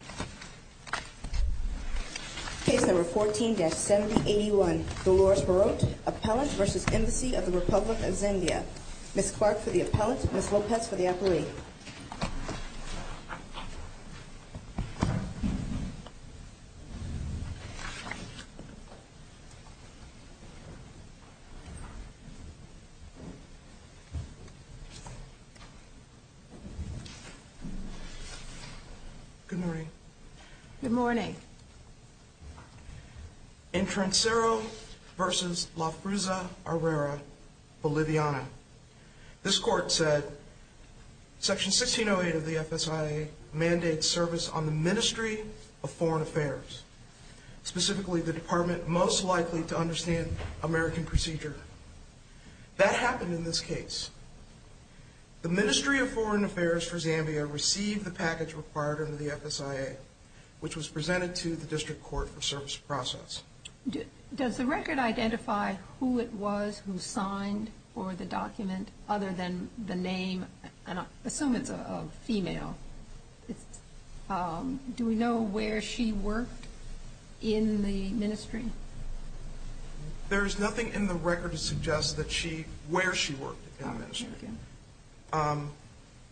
Ms. Clark for the appellant, Ms. Lopez for the appellate. Good morning. Good morning. In Trancero v. La Frusa Herrera, Boliviana, this court said, Section 1608 of the FSIA mandates service on the Ministry of Foreign Affairs, specifically the department most likely to understand American procedure. That happened in this case. The Ministry of Foreign Affairs for Zambia received the package required under the FSIA, which was presented to the district court for service process. Does the record identify who it was who signed for the document other than the name? I assume it's a female. Do we know where she worked in the ministry? There is nothing in the record to suggest where she worked in the ministry. Thank you.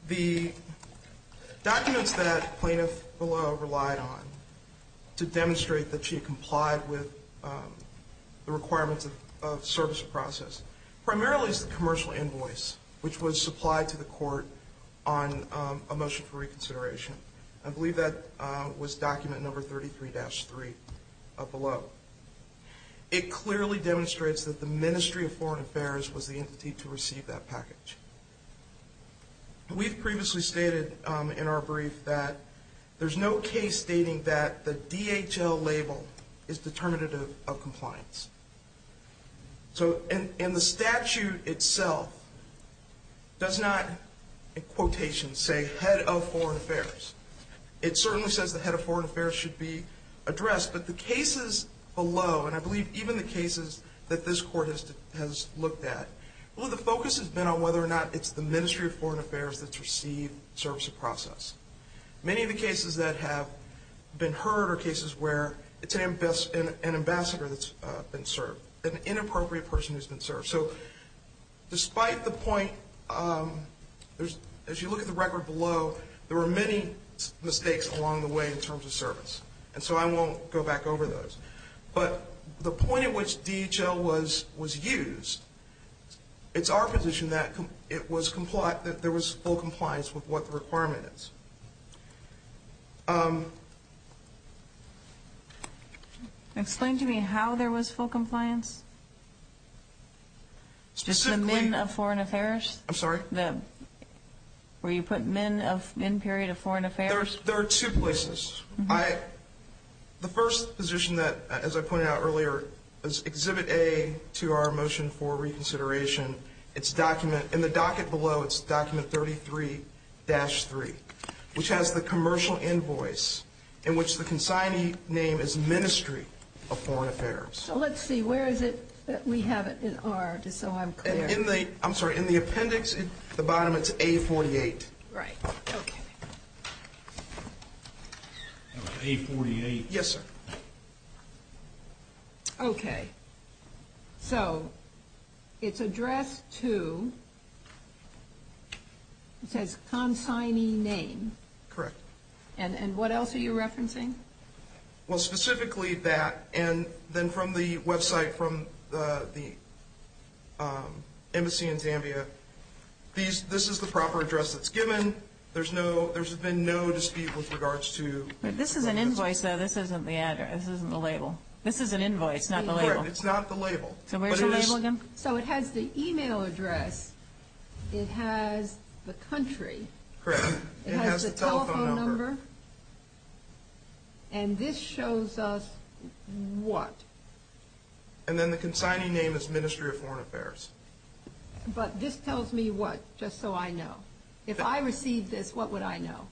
The documents that plaintiff below relied on to demonstrate that she complied with the requirements of service process primarily is the commercial invoice, which was supplied to the court on a motion for reconsideration. I believe that was document number 33-3 below. It clearly demonstrates that the Ministry of Foreign Affairs was the entity to receive that package. We've previously stated in our brief that there's no case stating that the DHL label is determinative of compliance. And the statute itself does not, in quotation, say head of foreign affairs. It certainly says the head of foreign affairs should be addressed, but the cases below, and I believe even the cases that this court has looked at, the focus has been on whether or not it's the Ministry of Foreign Affairs that's received service process. Many of the cases that have been heard are cases where it's an ambassador that's been served, an inappropriate person who's been served. So despite the point, as you look at the record below, there were many mistakes along the way in terms of service. And so I won't go back over those. But the point at which DHL was used, it's our position that there was full compliance with what the requirement is. Explain to me how there was full compliance? Specifically? Just the men of foreign affairs? I'm sorry? Where you put men period of foreign affairs? There are two places. The first position that, as I pointed out earlier, is exhibit A to our motion for reconsideration. In the docket below, it's document 33-3, which has the commercial invoice in which the consignee name is Ministry of Foreign Affairs. So let's see. Where is it that we have it in R, just so I'm clear? I'm sorry. In the appendix at the bottom, it's A48. Right. Okay. A48. Yes, sir. Okay. So it's addressed to, it says consignee name. Correct. And what else are you referencing? Well, specifically that, and then from the website from the embassy in Zambia, this is the proper address that's given. There's been no dispute with regards to. This is an invoice, though. This isn't the label. This is an invoice, not the label. Correct. It's not the label. So where's the label again? So it has the e-mail address. It has the country. Correct. It has the telephone number. It has the telephone number. And this shows us what? And then the consignee name is Ministry of Foreign Affairs. But this tells me what, just so I know? If I received this, what would I know?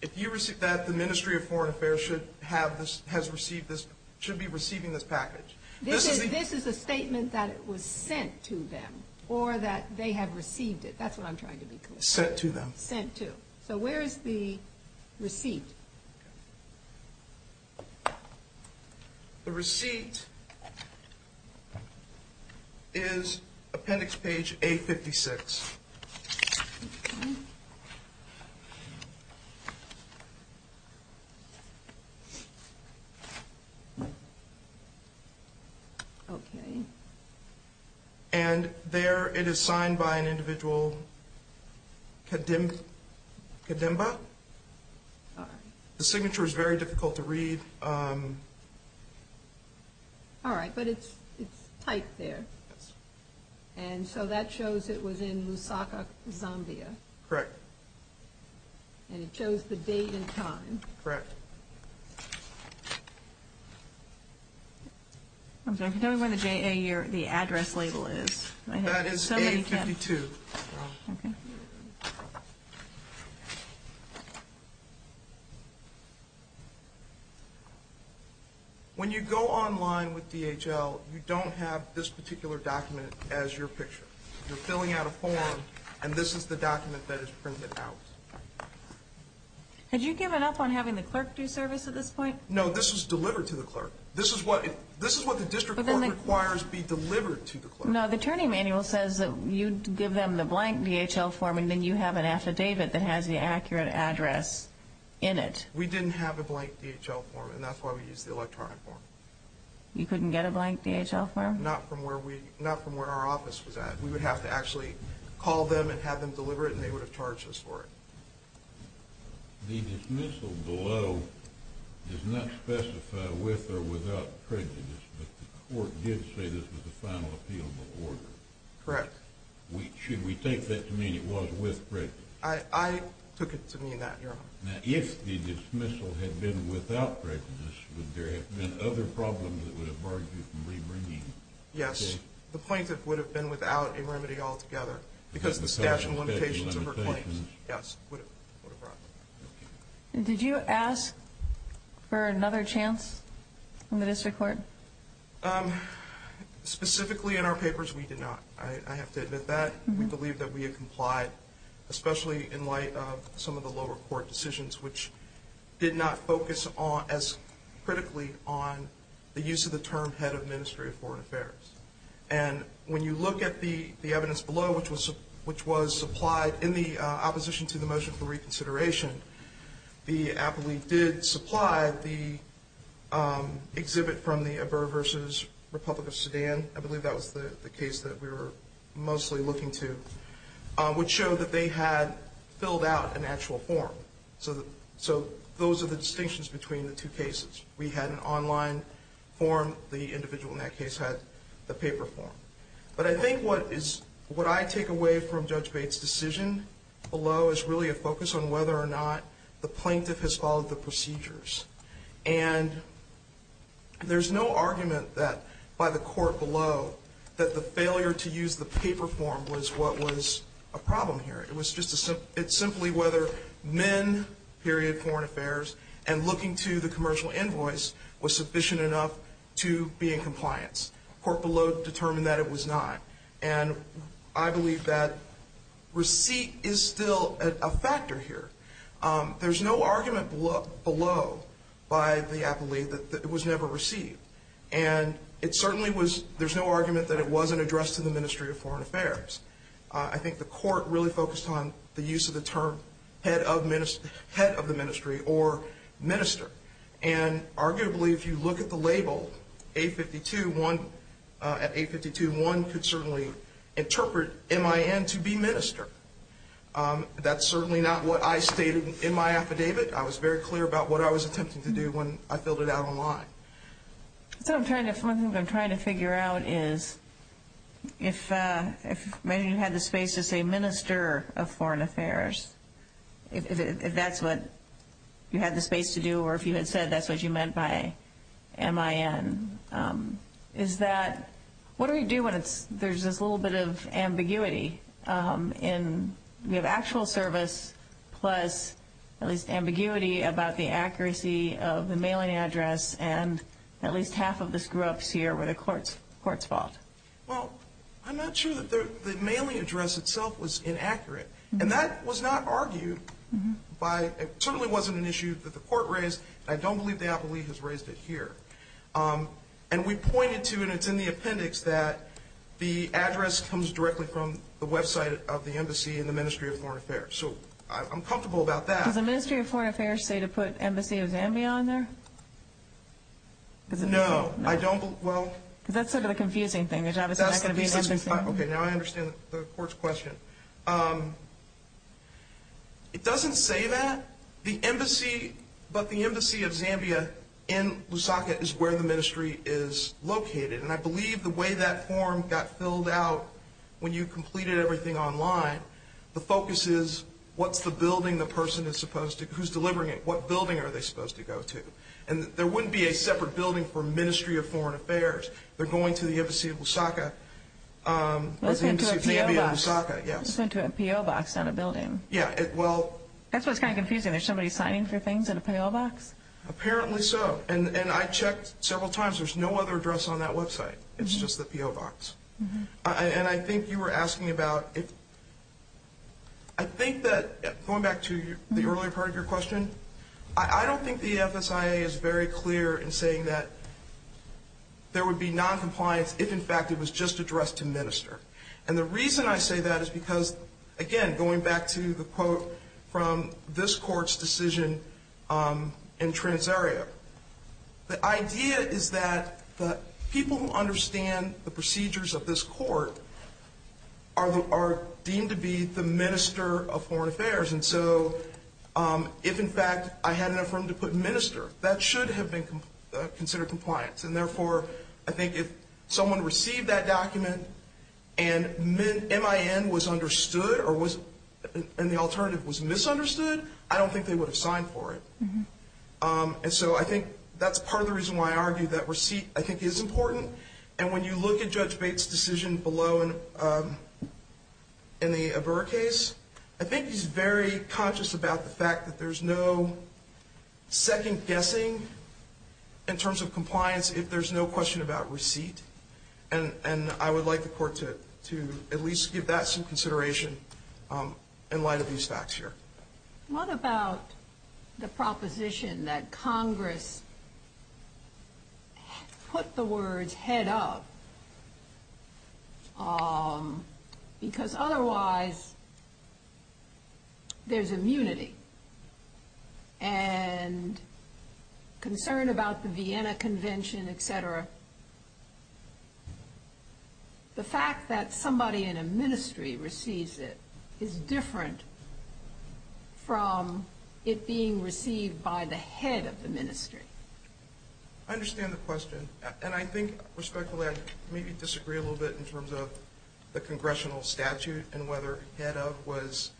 If you received that, the Ministry of Foreign Affairs should have this, has received this, should be receiving this package. This is a statement that it was sent to them or that they have received it. That's what I'm trying to be clear. Sent to them. Sent to. So where is the receipt? The receipt is Appendix Page A56. Okay. And there it is signed by an individual, Kadimba. Sorry. The signature is very difficult to read. All right. But it's typed there. And so that shows it was in Lusaka, Zambia. Correct. And it shows the date and time. Correct. Can you tell me what the address label is? That is A52. Okay. When you go online with DHL, you don't have this particular document as your picture. You're filling out a form, and this is the document that is printed out. Had you given up on having the clerk do service at this point? No, this was delivered to the clerk. This is what the district court requires be delivered to the clerk. No, the attorney manual says that you give them the blank DHL form and then you have an affidavit that has the accurate address in it. We didn't have a blank DHL form, and that's why we used the electronic form. You couldn't get a blank DHL form? Not from where our office was at. We would have to actually call them and have them deliver it, and they would have charged us for it. The dismissal below does not specify with or without prejudice, but the court did say this was a final appeal before. Correct. Should we take that to mean it was with prejudice? I took it to mean that, Your Honor. Now, if the dismissal had been without prejudice, would there have been other problems that would have barred you from rebringing? Yes. The plaintiff would have been without a remedy altogether because the statute of limitations of her claims. Yes, would have brought. Okay. Did you ask for another chance in the district court? Specifically in our papers, we did not. I have to admit that. We believe that we have complied, especially in light of some of the lower court decisions, which did not focus as critically on the use of the term head of ministry of foreign affairs. And when you look at the evidence below, which was supplied in the opposition to the motion for reconsideration, the appellee did supply the exhibit from the Abur versus Republic of Sudan. I believe that was the case that we were mostly looking to, which showed that they had filled out an actual form. So those are the distinctions between the two cases. We had an online form. The individual in that case had the paper form. But I think what I take away from Judge Bates' decision below is really a focus on whether or not the plaintiff has followed the procedures. And there's no argument that by the court below that the failure to use the paper form was what was a problem here. It's simply whether men, period, foreign affairs, and looking to the commercial invoice was sufficient enough to be in compliance. The court below determined that it was not. And I believe that receipt is still a factor here. There's no argument below by the appellee that it was never received. And there's no argument that it wasn't addressed to the Ministry of Foreign Affairs. I think the court really focused on the use of the term head of the ministry or minister. And arguably, if you look at the label, 852.1 could certainly interpret MIN to be minister. That's certainly not what I stated in my affidavit. I was very clear about what I was attempting to do when I filled it out online. One thing I'm trying to figure out is if maybe you had the space to say minister of foreign affairs, if that's what you had the space to do or if you had said that's what you meant by MIN, is that what do we do when there's this little bit of ambiguity? We have actual service plus at least ambiguity about the accuracy of the mailing address and at least half of this grew up here where the court's fault. Well, I'm not sure that the mailing address itself was inaccurate. And that was not argued by – it certainly wasn't an issue that the court raised, and I don't believe the appellee has raised it here. And we pointed to, and it's in the appendix, that the address comes directly from the website of the embassy and the Ministry of Foreign Affairs. So I'm comfortable about that. Does the Ministry of Foreign Affairs say to put Embassy of Zambia on there? No, I don't. Because that's sort of the confusing thing. Okay, now I understand the court's question. It doesn't say that. But the Embassy of Zambia in Lusaka is where the ministry is located. And I believe the way that form got filled out when you completed everything online, the focus is what's the building the person who's delivering it, what building are they supposed to go to. And there wouldn't be a separate building for Ministry of Foreign Affairs. They're going to the Embassy of Lusaka or the Embassy of Zambia in Lusaka, yes. It's going to a P.O. box on a building. Yeah, well. That's what's kind of confusing. There's somebody signing for things in a P.O. box? Apparently so. And I checked several times. There's no other address on that website. It's just the P.O. box. And I think you were asking about if – I think that, going back to the earlier part of your question, I don't think the FSIA is very clear in saying that there would be noncompliance if, in fact, it was just addressed to minister. And the reason I say that is because, again, going back to the quote from this court's decision in Transaria, the idea is that the people who understand the procedures of this court are deemed to be the minister of foreign affairs. And so if, in fact, I had an affirmative to put minister, that should have been considered compliance. And, therefore, I think if someone received that document and MIN was understood and the alternative was misunderstood, I don't think they would have signed for it. And so I think that's part of the reason why I argue that receipt, I think, is important. And when you look at Judge Bates' decision below in the Averro case, I think he's very conscious about the fact that there's no second guessing in terms of compliance if there's no question about receipt. And I would like the court to at least give that some consideration in light of these facts here. What about the proposition that Congress put the words head up because, otherwise, there's immunity and concern about the Vienna Convention, et cetera. The fact that somebody in a ministry receives it is different from it being received by the head of the ministry. I understand the question, and I think, respectfully, I maybe disagree a little bit in terms of the congressional statute and whether head up was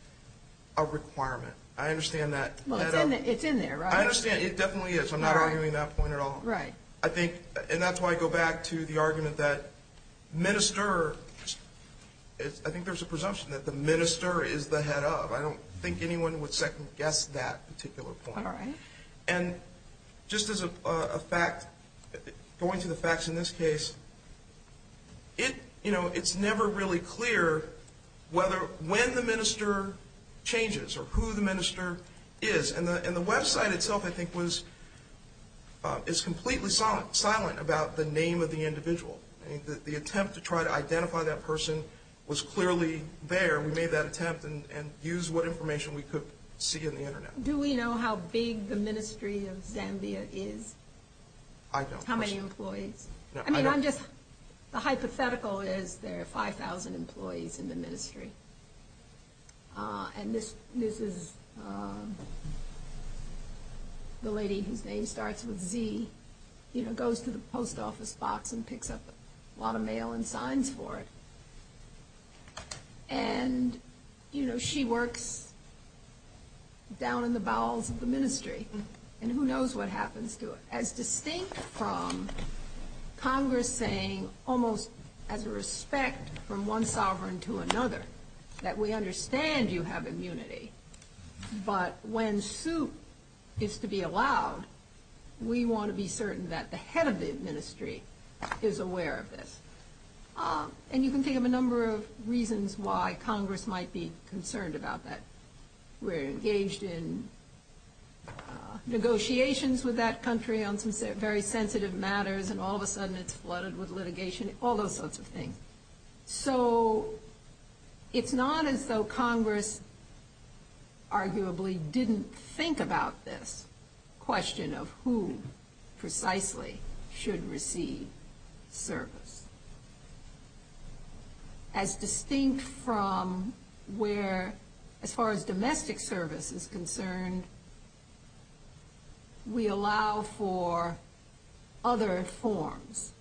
a requirement. I understand that. Well, it's in there, right? I understand. It definitely is. I'm not arguing that point at all. Right. I think, and that's why I go back to the argument that minister, I think there's a presumption that the minister is the head up. I don't think anyone would second guess that particular point. All right. And just as a fact, going to the facts in this case, it's never really clear when the minister changes or who the minister is. And the website itself, I think, is completely silent about the name of the individual. The attempt to try to identify that person was clearly there. We made that attempt and used what information we could see on the Internet. Do we know how big the Ministry of Zambia is? I don't. How many employees? I mean, I'm just, the hypothetical is there are 5,000 employees in the ministry. And this is the lady whose name starts with Z, you know, goes to the post office box and picks up a lot of mail and signs for it. And, you know, she works down in the bowels of the ministry. And who knows what happens to her. As distinct from Congress saying, almost as a respect from one sovereign to another, that we understand you have immunity, but when suit is to be allowed, we want to be certain that the head of the ministry is aware of this. And you can think of a number of reasons why Congress might be concerned about that. We're engaged in negotiations with that country on some very sensitive matters, and all of a sudden it's flooded with litigation, all those sorts of things. So it's not as though Congress arguably didn't think about this question of who precisely should receive service. As distinct from where, as far as domestic service is concerned, we allow for other forms.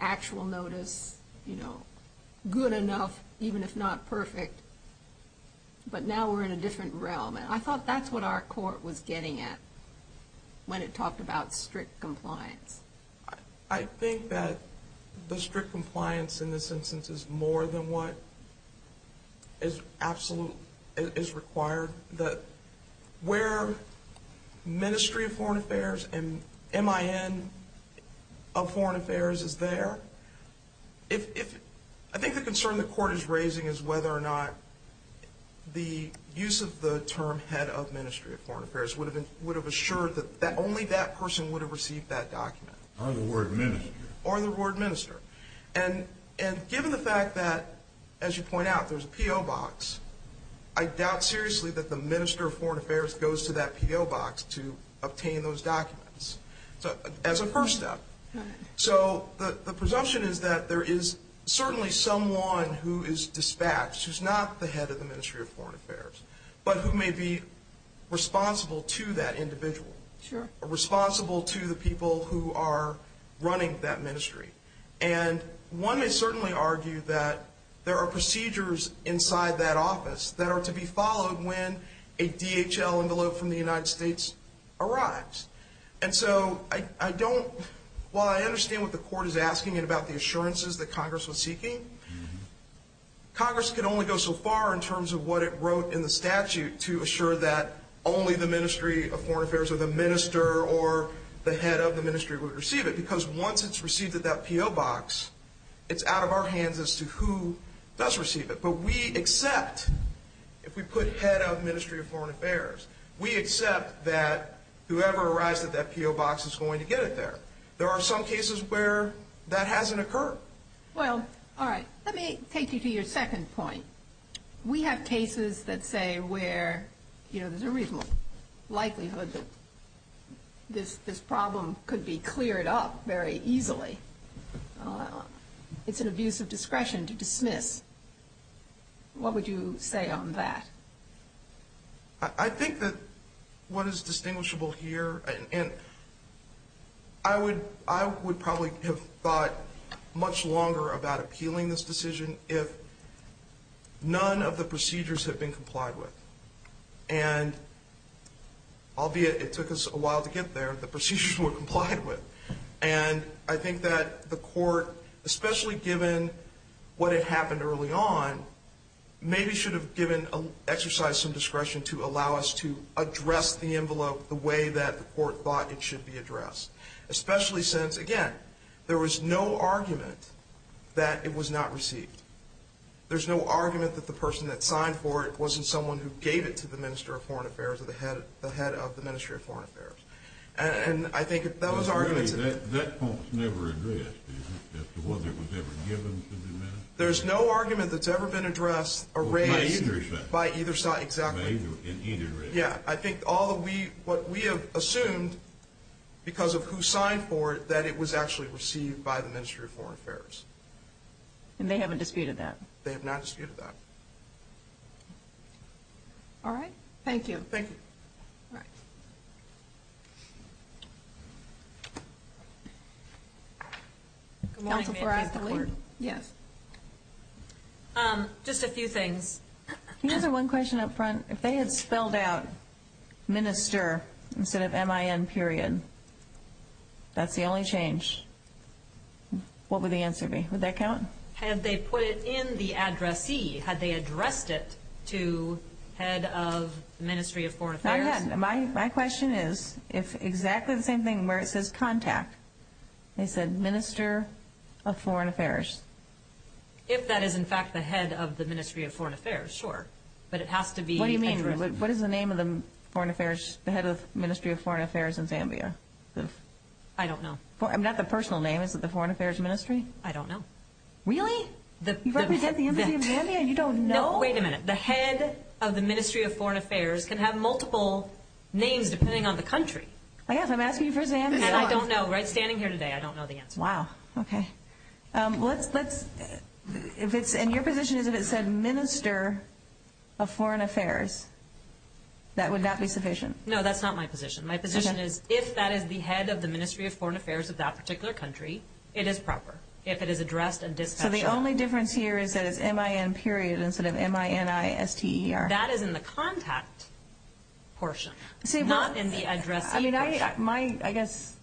Actual notice, you know, good enough, even if not perfect. But now we're in a different realm. And I thought that's what our court was getting at when it talked about strict compliance. I think that the strict compliance in this instance is more than what is absolute, is required. That where Ministry of Foreign Affairs and MIN of Foreign Affairs is there, I think the concern the court is raising is whether or not the use of the term head of Ministry of Foreign Affairs would have assured that only that person would have received that document. Or the word minister. Or the word minister. And given the fact that, as you point out, there's a P.O. box, I doubt seriously that the Minister of Foreign Affairs goes to that P.O. box to obtain those documents as a first step. So the presumption is that there is certainly someone who is dispatched, who's not the head of the Ministry of Foreign Affairs, but who may be responsible to that individual. Sure. Responsible to the people who are running that ministry. And one may certainly argue that there are procedures inside that office that are to be followed when a DHL envelope from the United States arrives. And so I don't, while I understand what the court is asking and about the assurances that Congress was seeking, Congress can only go so far in terms of what it wrote in the statute to assure that only the Ministry of Foreign Affairs or the minister or the head of the ministry would receive it. Because once it's received at that P.O. box, it's out of our hands as to who does receive it. But we accept, if we put head of Ministry of Foreign Affairs, we accept that whoever arrives at that P.O. box is going to get it there. There are some cases where that hasn't occurred. Well, all right, let me take you to your second point. We have cases that say where there's a reasonable likelihood that this problem could be cleared up very easily. It's an abuse of discretion to dismiss. What would you say on that? I think that what is distinguishable here, and I would probably have thought much longer about appealing this decision if none of the procedures had been complied with. And albeit it took us a while to get there, the procedures were complied with. And I think that the court, especially given what had happened early on, maybe should have exercised some discretion to allow us to address the envelope the way that the court thought it should be addressed. Especially since, again, there was no argument that it was not received. There's no argument that the person that signed for it wasn't someone who gave it to the Minister of Foreign Affairs or the head of the Ministry of Foreign Affairs. And I think if those arguments... But really, that point's never addressed, is it, as to whether it was ever given to the minister? There's no argument that's ever been addressed or raised by either side, exactly. In either area? Yeah. I think all of what we have assumed because of who signed for it, that it was actually received by the Ministry of Foreign Affairs. And they haven't disputed that? They have not disputed that. All right. Thank you. Thank you. All right. Thank you. Counsel for Adelaide? Yes. Just a few things. Can you answer one question up front? If they had spelled out minister instead of M-I-N period, that's the only change. What would the answer be? Would that count? Had they put it in the addressee? Had they addressed it to head of the Ministry of Foreign Affairs? My question is exactly the same thing where it says contact. They said minister of foreign affairs. If that is, in fact, the head of the Ministry of Foreign Affairs, sure. But it has to be addressed. What do you mean? What is the name of the head of the Ministry of Foreign Affairs in Zambia? I don't know. Not the personal name. Is it the Foreign Affairs Ministry? I don't know. Really? You represent the Embassy of Zambia and you don't know? No. Wait a minute. The head of the Ministry of Foreign Affairs can have multiple names depending on the country. I'm asking you for Zambia. And I don't know. Standing here today, I don't know the answer. Wow. Okay. Your position is if it said minister of foreign affairs, that would not be sufficient. No, that's not my position. My position is if that is the head of the Ministry of Foreign Affairs of that particular country, it is proper. If it is addressed and discussed. So the only difference here is that it's M-I-N period instead of M-I-N-I-S-T-E-R. That is in the contact portion, not in the addressing portion. I mean, I guess,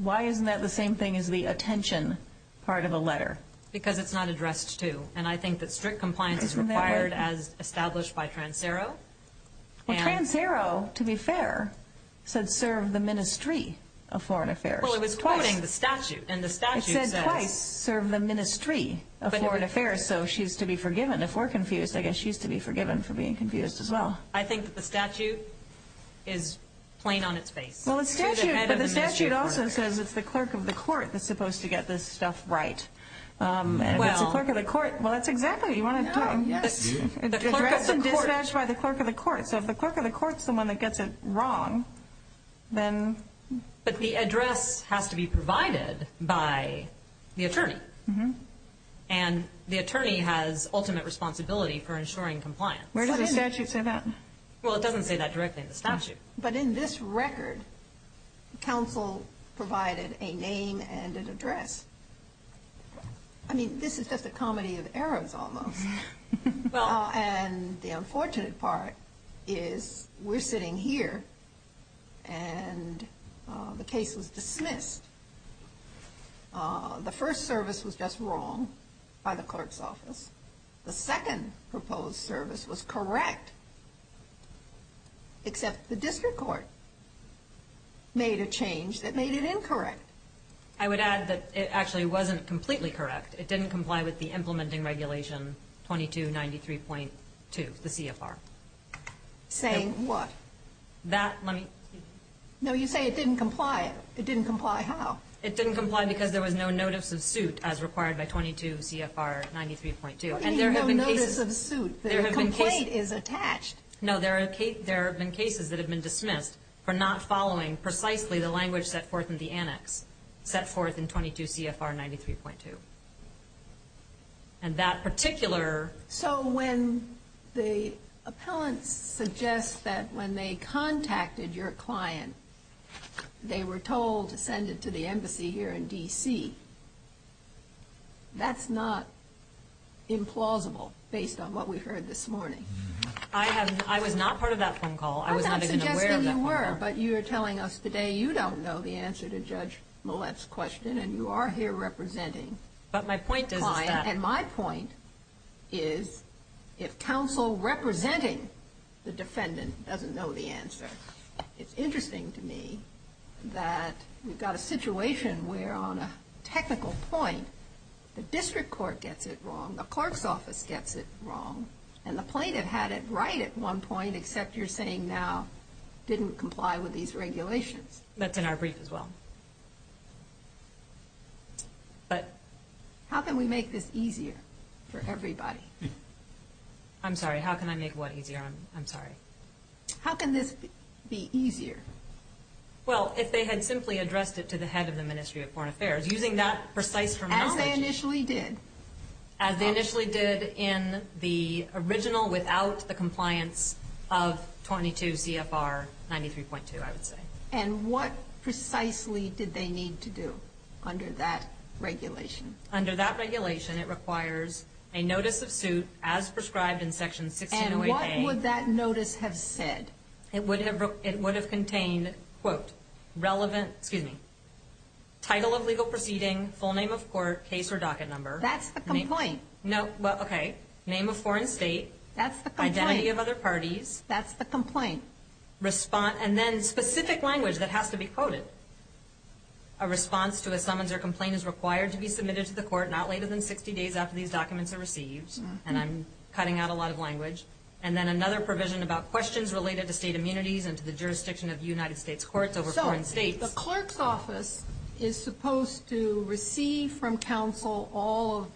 why isn't that the same thing as the attention part of a letter? Because it's not addressed to. And I think that strict compliance is required as established by Trans-Ero. Well, Trans-Ero, to be fair, said serve the Ministry of Foreign Affairs. Well, it was quoting the statute. And the statute says. It said twice, serve the Ministry of Foreign Affairs. So she's to be forgiven. If we're confused, I guess she's to be forgiven for being confused as well. I think that the statute is plain on its face. Well, the statute also says it's the clerk of the court that's supposed to get this stuff right. And if it's the clerk of the court, well, that's exactly what you want to do. Yes. Address and dispatch by the clerk of the court. So if the clerk of the court is the one that gets it wrong, then. But the address has to be provided by the attorney. And the attorney has ultimate responsibility for ensuring compliance. Where does the statute say that? Well, it doesn't say that directly in the statute. But in this record, counsel provided a name and an address. I mean, this is just a comedy of arrows almost. And the unfortunate part is we're sitting here and the case was dismissed. The first service was just wrong by the clerk's office. The second proposed service was correct, except the district court made a change that made it incorrect. I would add that it actually wasn't completely correct. It didn't comply with the implementing regulation 2293.2, the CFR. Saying what? That, let me. No, you say it didn't comply. It didn't comply how? It didn't comply because there was no notice of suit as required by 22CFR93.2. There is no notice of suit. The complaint is attached. No, there have been cases that have been dismissed for not following precisely the language set forth in the annex, set forth in 22CFR93.2. And that particular. So when the appellants suggest that when they contacted your client, they were told to send it to the embassy here in D.C., that's not implausible based on what we heard this morning. I was not part of that phone call. I was not even aware of that phone call. But you're telling us today you don't know the answer to Judge Millett's question and you are here representing. But my point is. And my point is if counsel representing the defendant doesn't know the answer, it's interesting to me that we've got a situation where on a technical point, the district court gets it wrong, the clerk's office gets it wrong, and the plaintiff had it right at one point, except you're saying now didn't comply with these regulations. That's in our brief as well. How can we make this easier for everybody? I'm sorry. How can I make what easier? I'm sorry. How can this be easier? Well, if they had simply addressed it to the head of the Ministry of Foreign Affairs, using that precise terminology. As they initially did. As they initially did in the original without the compliance of 22 CFR 93.2, I would say. And what precisely did they need to do under that regulation? Under that regulation, it requires a notice of suit as prescribed in Section 1608A. And what would that notice have said? It would have contained, quote, relevant, excuse me, title of legal proceeding, full name of court, case or docket number. That's the complaint. Okay. Name of foreign state. That's the complaint. Identity of other parties. That's the complaint. And then specific language that has to be quoted. A response to a summons or complaint is required to be submitted to the court not later than 60 days after these documents are received. And I'm cutting out a lot of language. And then another provision about questions related to state immunities and to the jurisdiction of the United States courts over foreign states. The clerk's office is supposed to receive from counsel all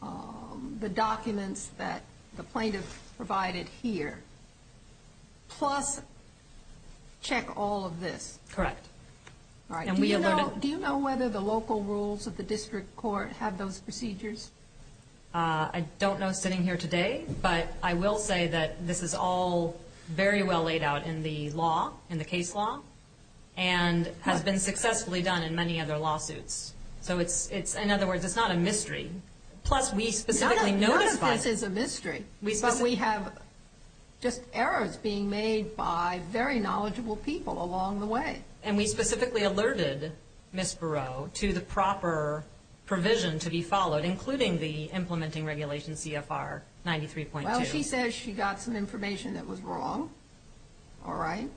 of the documents that the plaintiff provided here, plus check all of this. Correct. All right. Do you know whether the local rules of the district court have those procedures? I don't know sitting here today, but I will say that this is all very well laid out in the law, in the case law, and has been successfully done in many other lawsuits. So it's, in other words, it's not a mystery. Plus, we specifically notified. None of this is a mystery. But we have just errors being made by very knowledgeable people along the way. And we specifically alerted Ms. Barrow to the proper provision to be followed, including the implementing regulation CFR 93.2. Well, she says she got some information that was wrong. All right.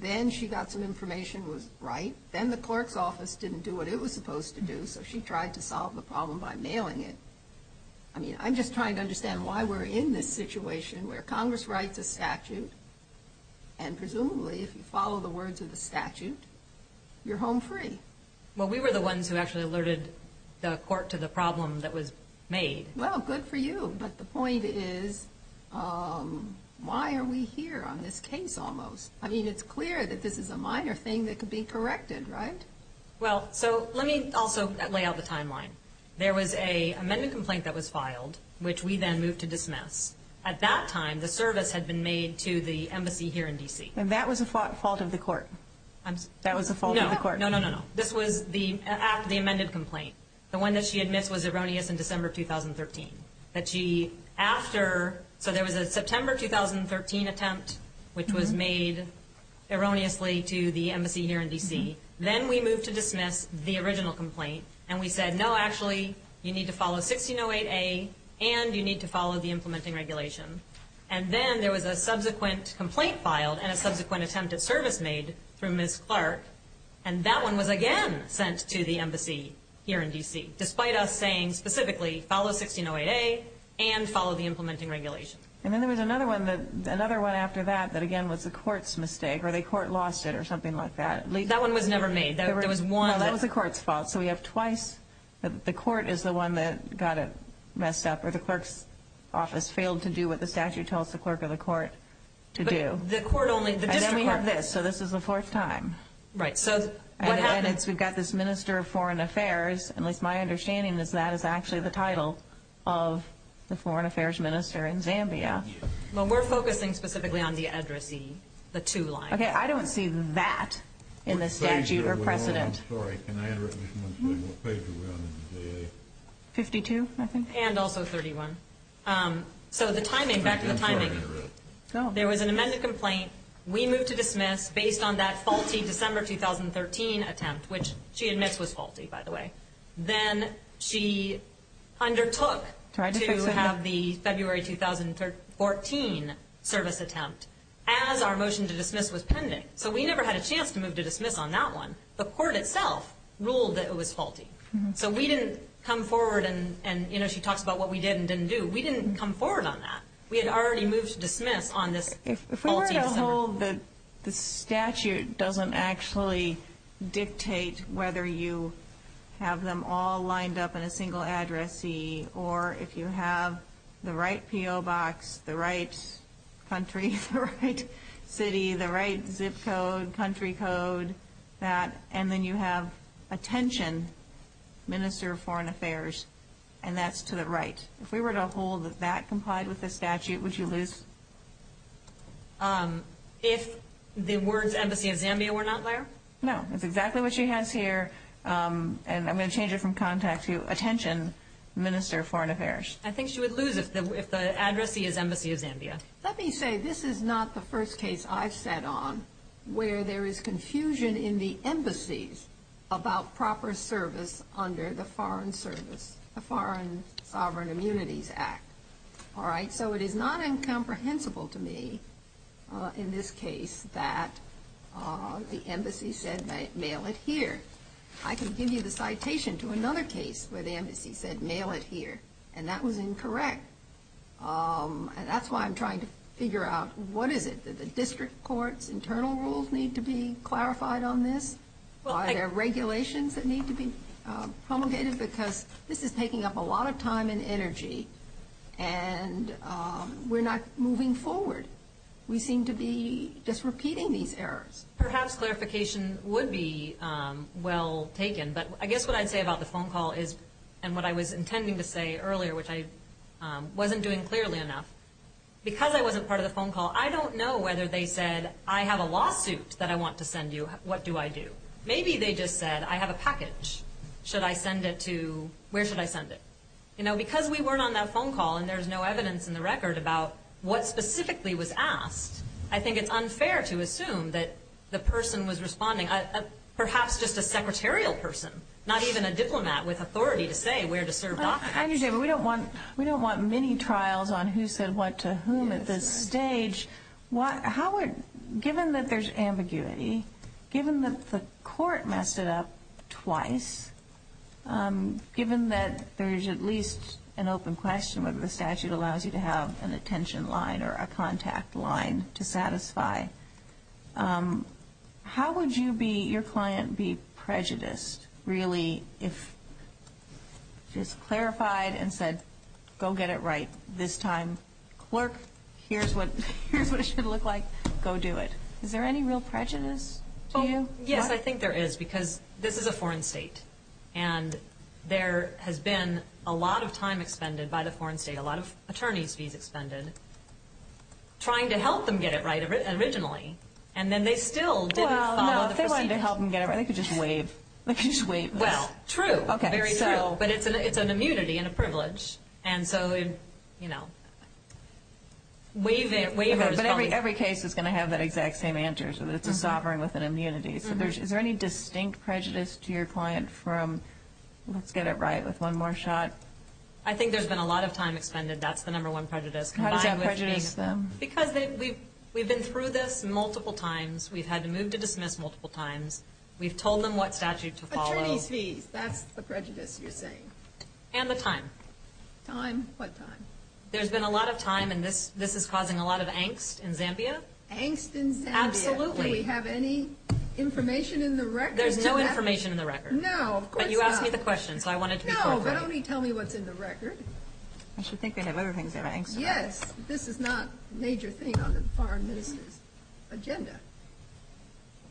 Then she got some information that was right. Then the clerk's office didn't do what it was supposed to do, so she tried to solve the problem by mailing it. I mean, I'm just trying to understand why we're in this situation where Congress writes a statute, and presumably if you follow the words of the statute, you're home free. Well, we were the ones who actually alerted the court to the problem that was made. Well, good for you. But the point is, why are we here on this case almost? I mean, it's clear that this is a minor thing that could be corrected, right? Well, so let me also lay out the timeline. There was an amendment complaint that was filed, which we then moved to dismiss. At that time, the service had been made to the embassy here in D.C. And that was a fault of the court? That was a fault of the court. No, no, no, no. This was the amended complaint. The one that she admits was erroneous in December 2013. So there was a September 2013 attempt, which was made erroneously to the embassy here in D.C. Then we moved to dismiss the original complaint, and we said, no, actually, you need to follow 1608A and you need to follow the implementing regulation. And then there was a subsequent complaint filed and a subsequent attempt at service made through Ms. Clark, and that one was again sent to the embassy here in D.C., despite us saying specifically follow 1608A and follow the implementing regulation. And then there was another one after that that, again, was the court's mistake, or the court lost it or something like that. That one was never made. No, that was the court's fault. So we have twice that the court is the one that got it messed up or the clerk's office failed to do what the statute tells the clerk or the court to do. But the court only, the district court. And then we have this. So this is the fourth time. Right. So what happens? And again, we've got this Minister of Foreign Affairs. At least my understanding is that is actually the title of the Foreign Affairs Minister in Zambia. Well, we're focusing specifically on the addressee, the two lines. Okay. I don't see that in the statute or precedent. I'm sorry. Can I add recognition once again? What page are we on in the DA? 52, I think. And also 31. So the timing, back to the timing. There was an amended complaint. We moved to dismiss based on that faulty December 2013 attempt, which she admits was faulty, by the way. Then she undertook to have the February 2014 service attempt as our motion to dismiss was pending. So we never had a chance to move to dismiss on that one. The court itself ruled that it was faulty. So we didn't come forward and, you know, she talks about what we did and didn't do. We didn't come forward on that. We had already moved to dismiss on this faulty December. If we were to hold that the statute doesn't actually dictate whether you have them all lined up in a single addressee or if you have the right P.O. box, the right country, the right city, the right zip code, country code, that, and then you have attention, Minister of Foreign Affairs, and that's to the right. If we were to hold that that complied with the statute, would you lose? If the words Embassy of Zambia were not there? No. That's exactly what she has here. And I'm going to change it from contact to attention, Minister of Foreign Affairs. I think she would lose if the addressee is Embassy of Zambia. Let me say this is not the first case I've sat on where there is confusion in the embassies about proper service under the Foreign Service, the Foreign Sovereign Immunities Act. All right. So it is not incomprehensible to me in this case that the embassy said mail it here. I can give you the citation to another case where the embassy said mail it here, and that was incorrect. And that's why I'm trying to figure out what is it. Do the district courts' internal rules need to be clarified on this? Are there regulations that need to be promulgated? Because this is taking up a lot of time and energy, and we're not moving forward. We seem to be just repeating these errors. Perhaps clarification would be well taken, but I guess what I'd say about the phone call is, and what I was intending to say earlier, which I wasn't doing clearly enough, because I wasn't part of the phone call, I don't know whether they said, I have a lawsuit that I want to send you. What do I do? Maybe they just said, I have a package. Should I send it to? Where should I send it? You know, because we weren't on that phone call and there's no evidence in the record about what specifically was asked, I think it's unfair to assume that the person was responding, perhaps just a secretarial person, not even a diplomat with authority to say where to serve documents. I understand, but we don't want mini-trials on who said what to whom at this stage. Howard, given that there's ambiguity, given that the court messed it up twice, given that there's at least an open question whether the statute allows you to have an attention line or a contact line to satisfy, how would you be, your client, be prejudiced, really, if she's clarified and said, go get it right this time. Clerk, here's what it should look like. Go do it. Is there any real prejudice to you? Yes, I think there is, because this is a foreign state, and there has been a lot of time expended by the foreign state, a lot of attorney's fees expended, trying to help them get it right originally, and then they still didn't follow the procedure. Trying to help them get it right. They could just waive. They could just waive this. Well, true. Very true. But it's an immunity and a privilege, and so, you know, waivers. But every case is going to have that exact same answer, so that it's a sovereign with an immunity. So is there any distinct prejudice to your client from, let's get it right with one more shot? I think there's been a lot of time expended. That's the number one prejudice. How does that prejudice them? Because we've been through this multiple times. We've had to move to dismiss multiple times. We've told them what statute to follow. Attorney's fees. That's the prejudice you're saying. And the time. Time? What time? There's been a lot of time, and this is causing a lot of angst in Zambia. Angst in Zambia? Absolutely. Do we have any information in the record? There's no information in the record. No, of course not. But you asked me the question, so I wanted to be clear. No, but only tell me what's in the record. I should think we have everything in Zambia. Yes, this is not a major thing on the foreign minister's agenda.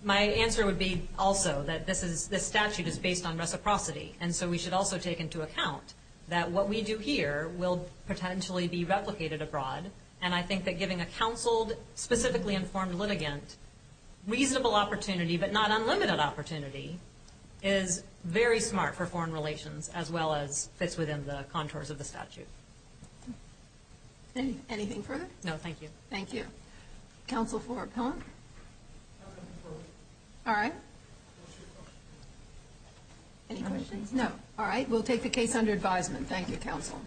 My answer would be also that this statute is based on reciprocity, and so we should also take into account that what we do here will potentially be replicated abroad, and I think that giving a counseled, specifically informed litigant reasonable opportunity, but not unlimited opportunity, is very smart for foreign relations, as well as fits within the contours of the statute. Anything further? No, thank you. Thank you. Counsel for appellant? All right. Any questions? No. All right, we'll take the case under advisement. Thank you, counsel.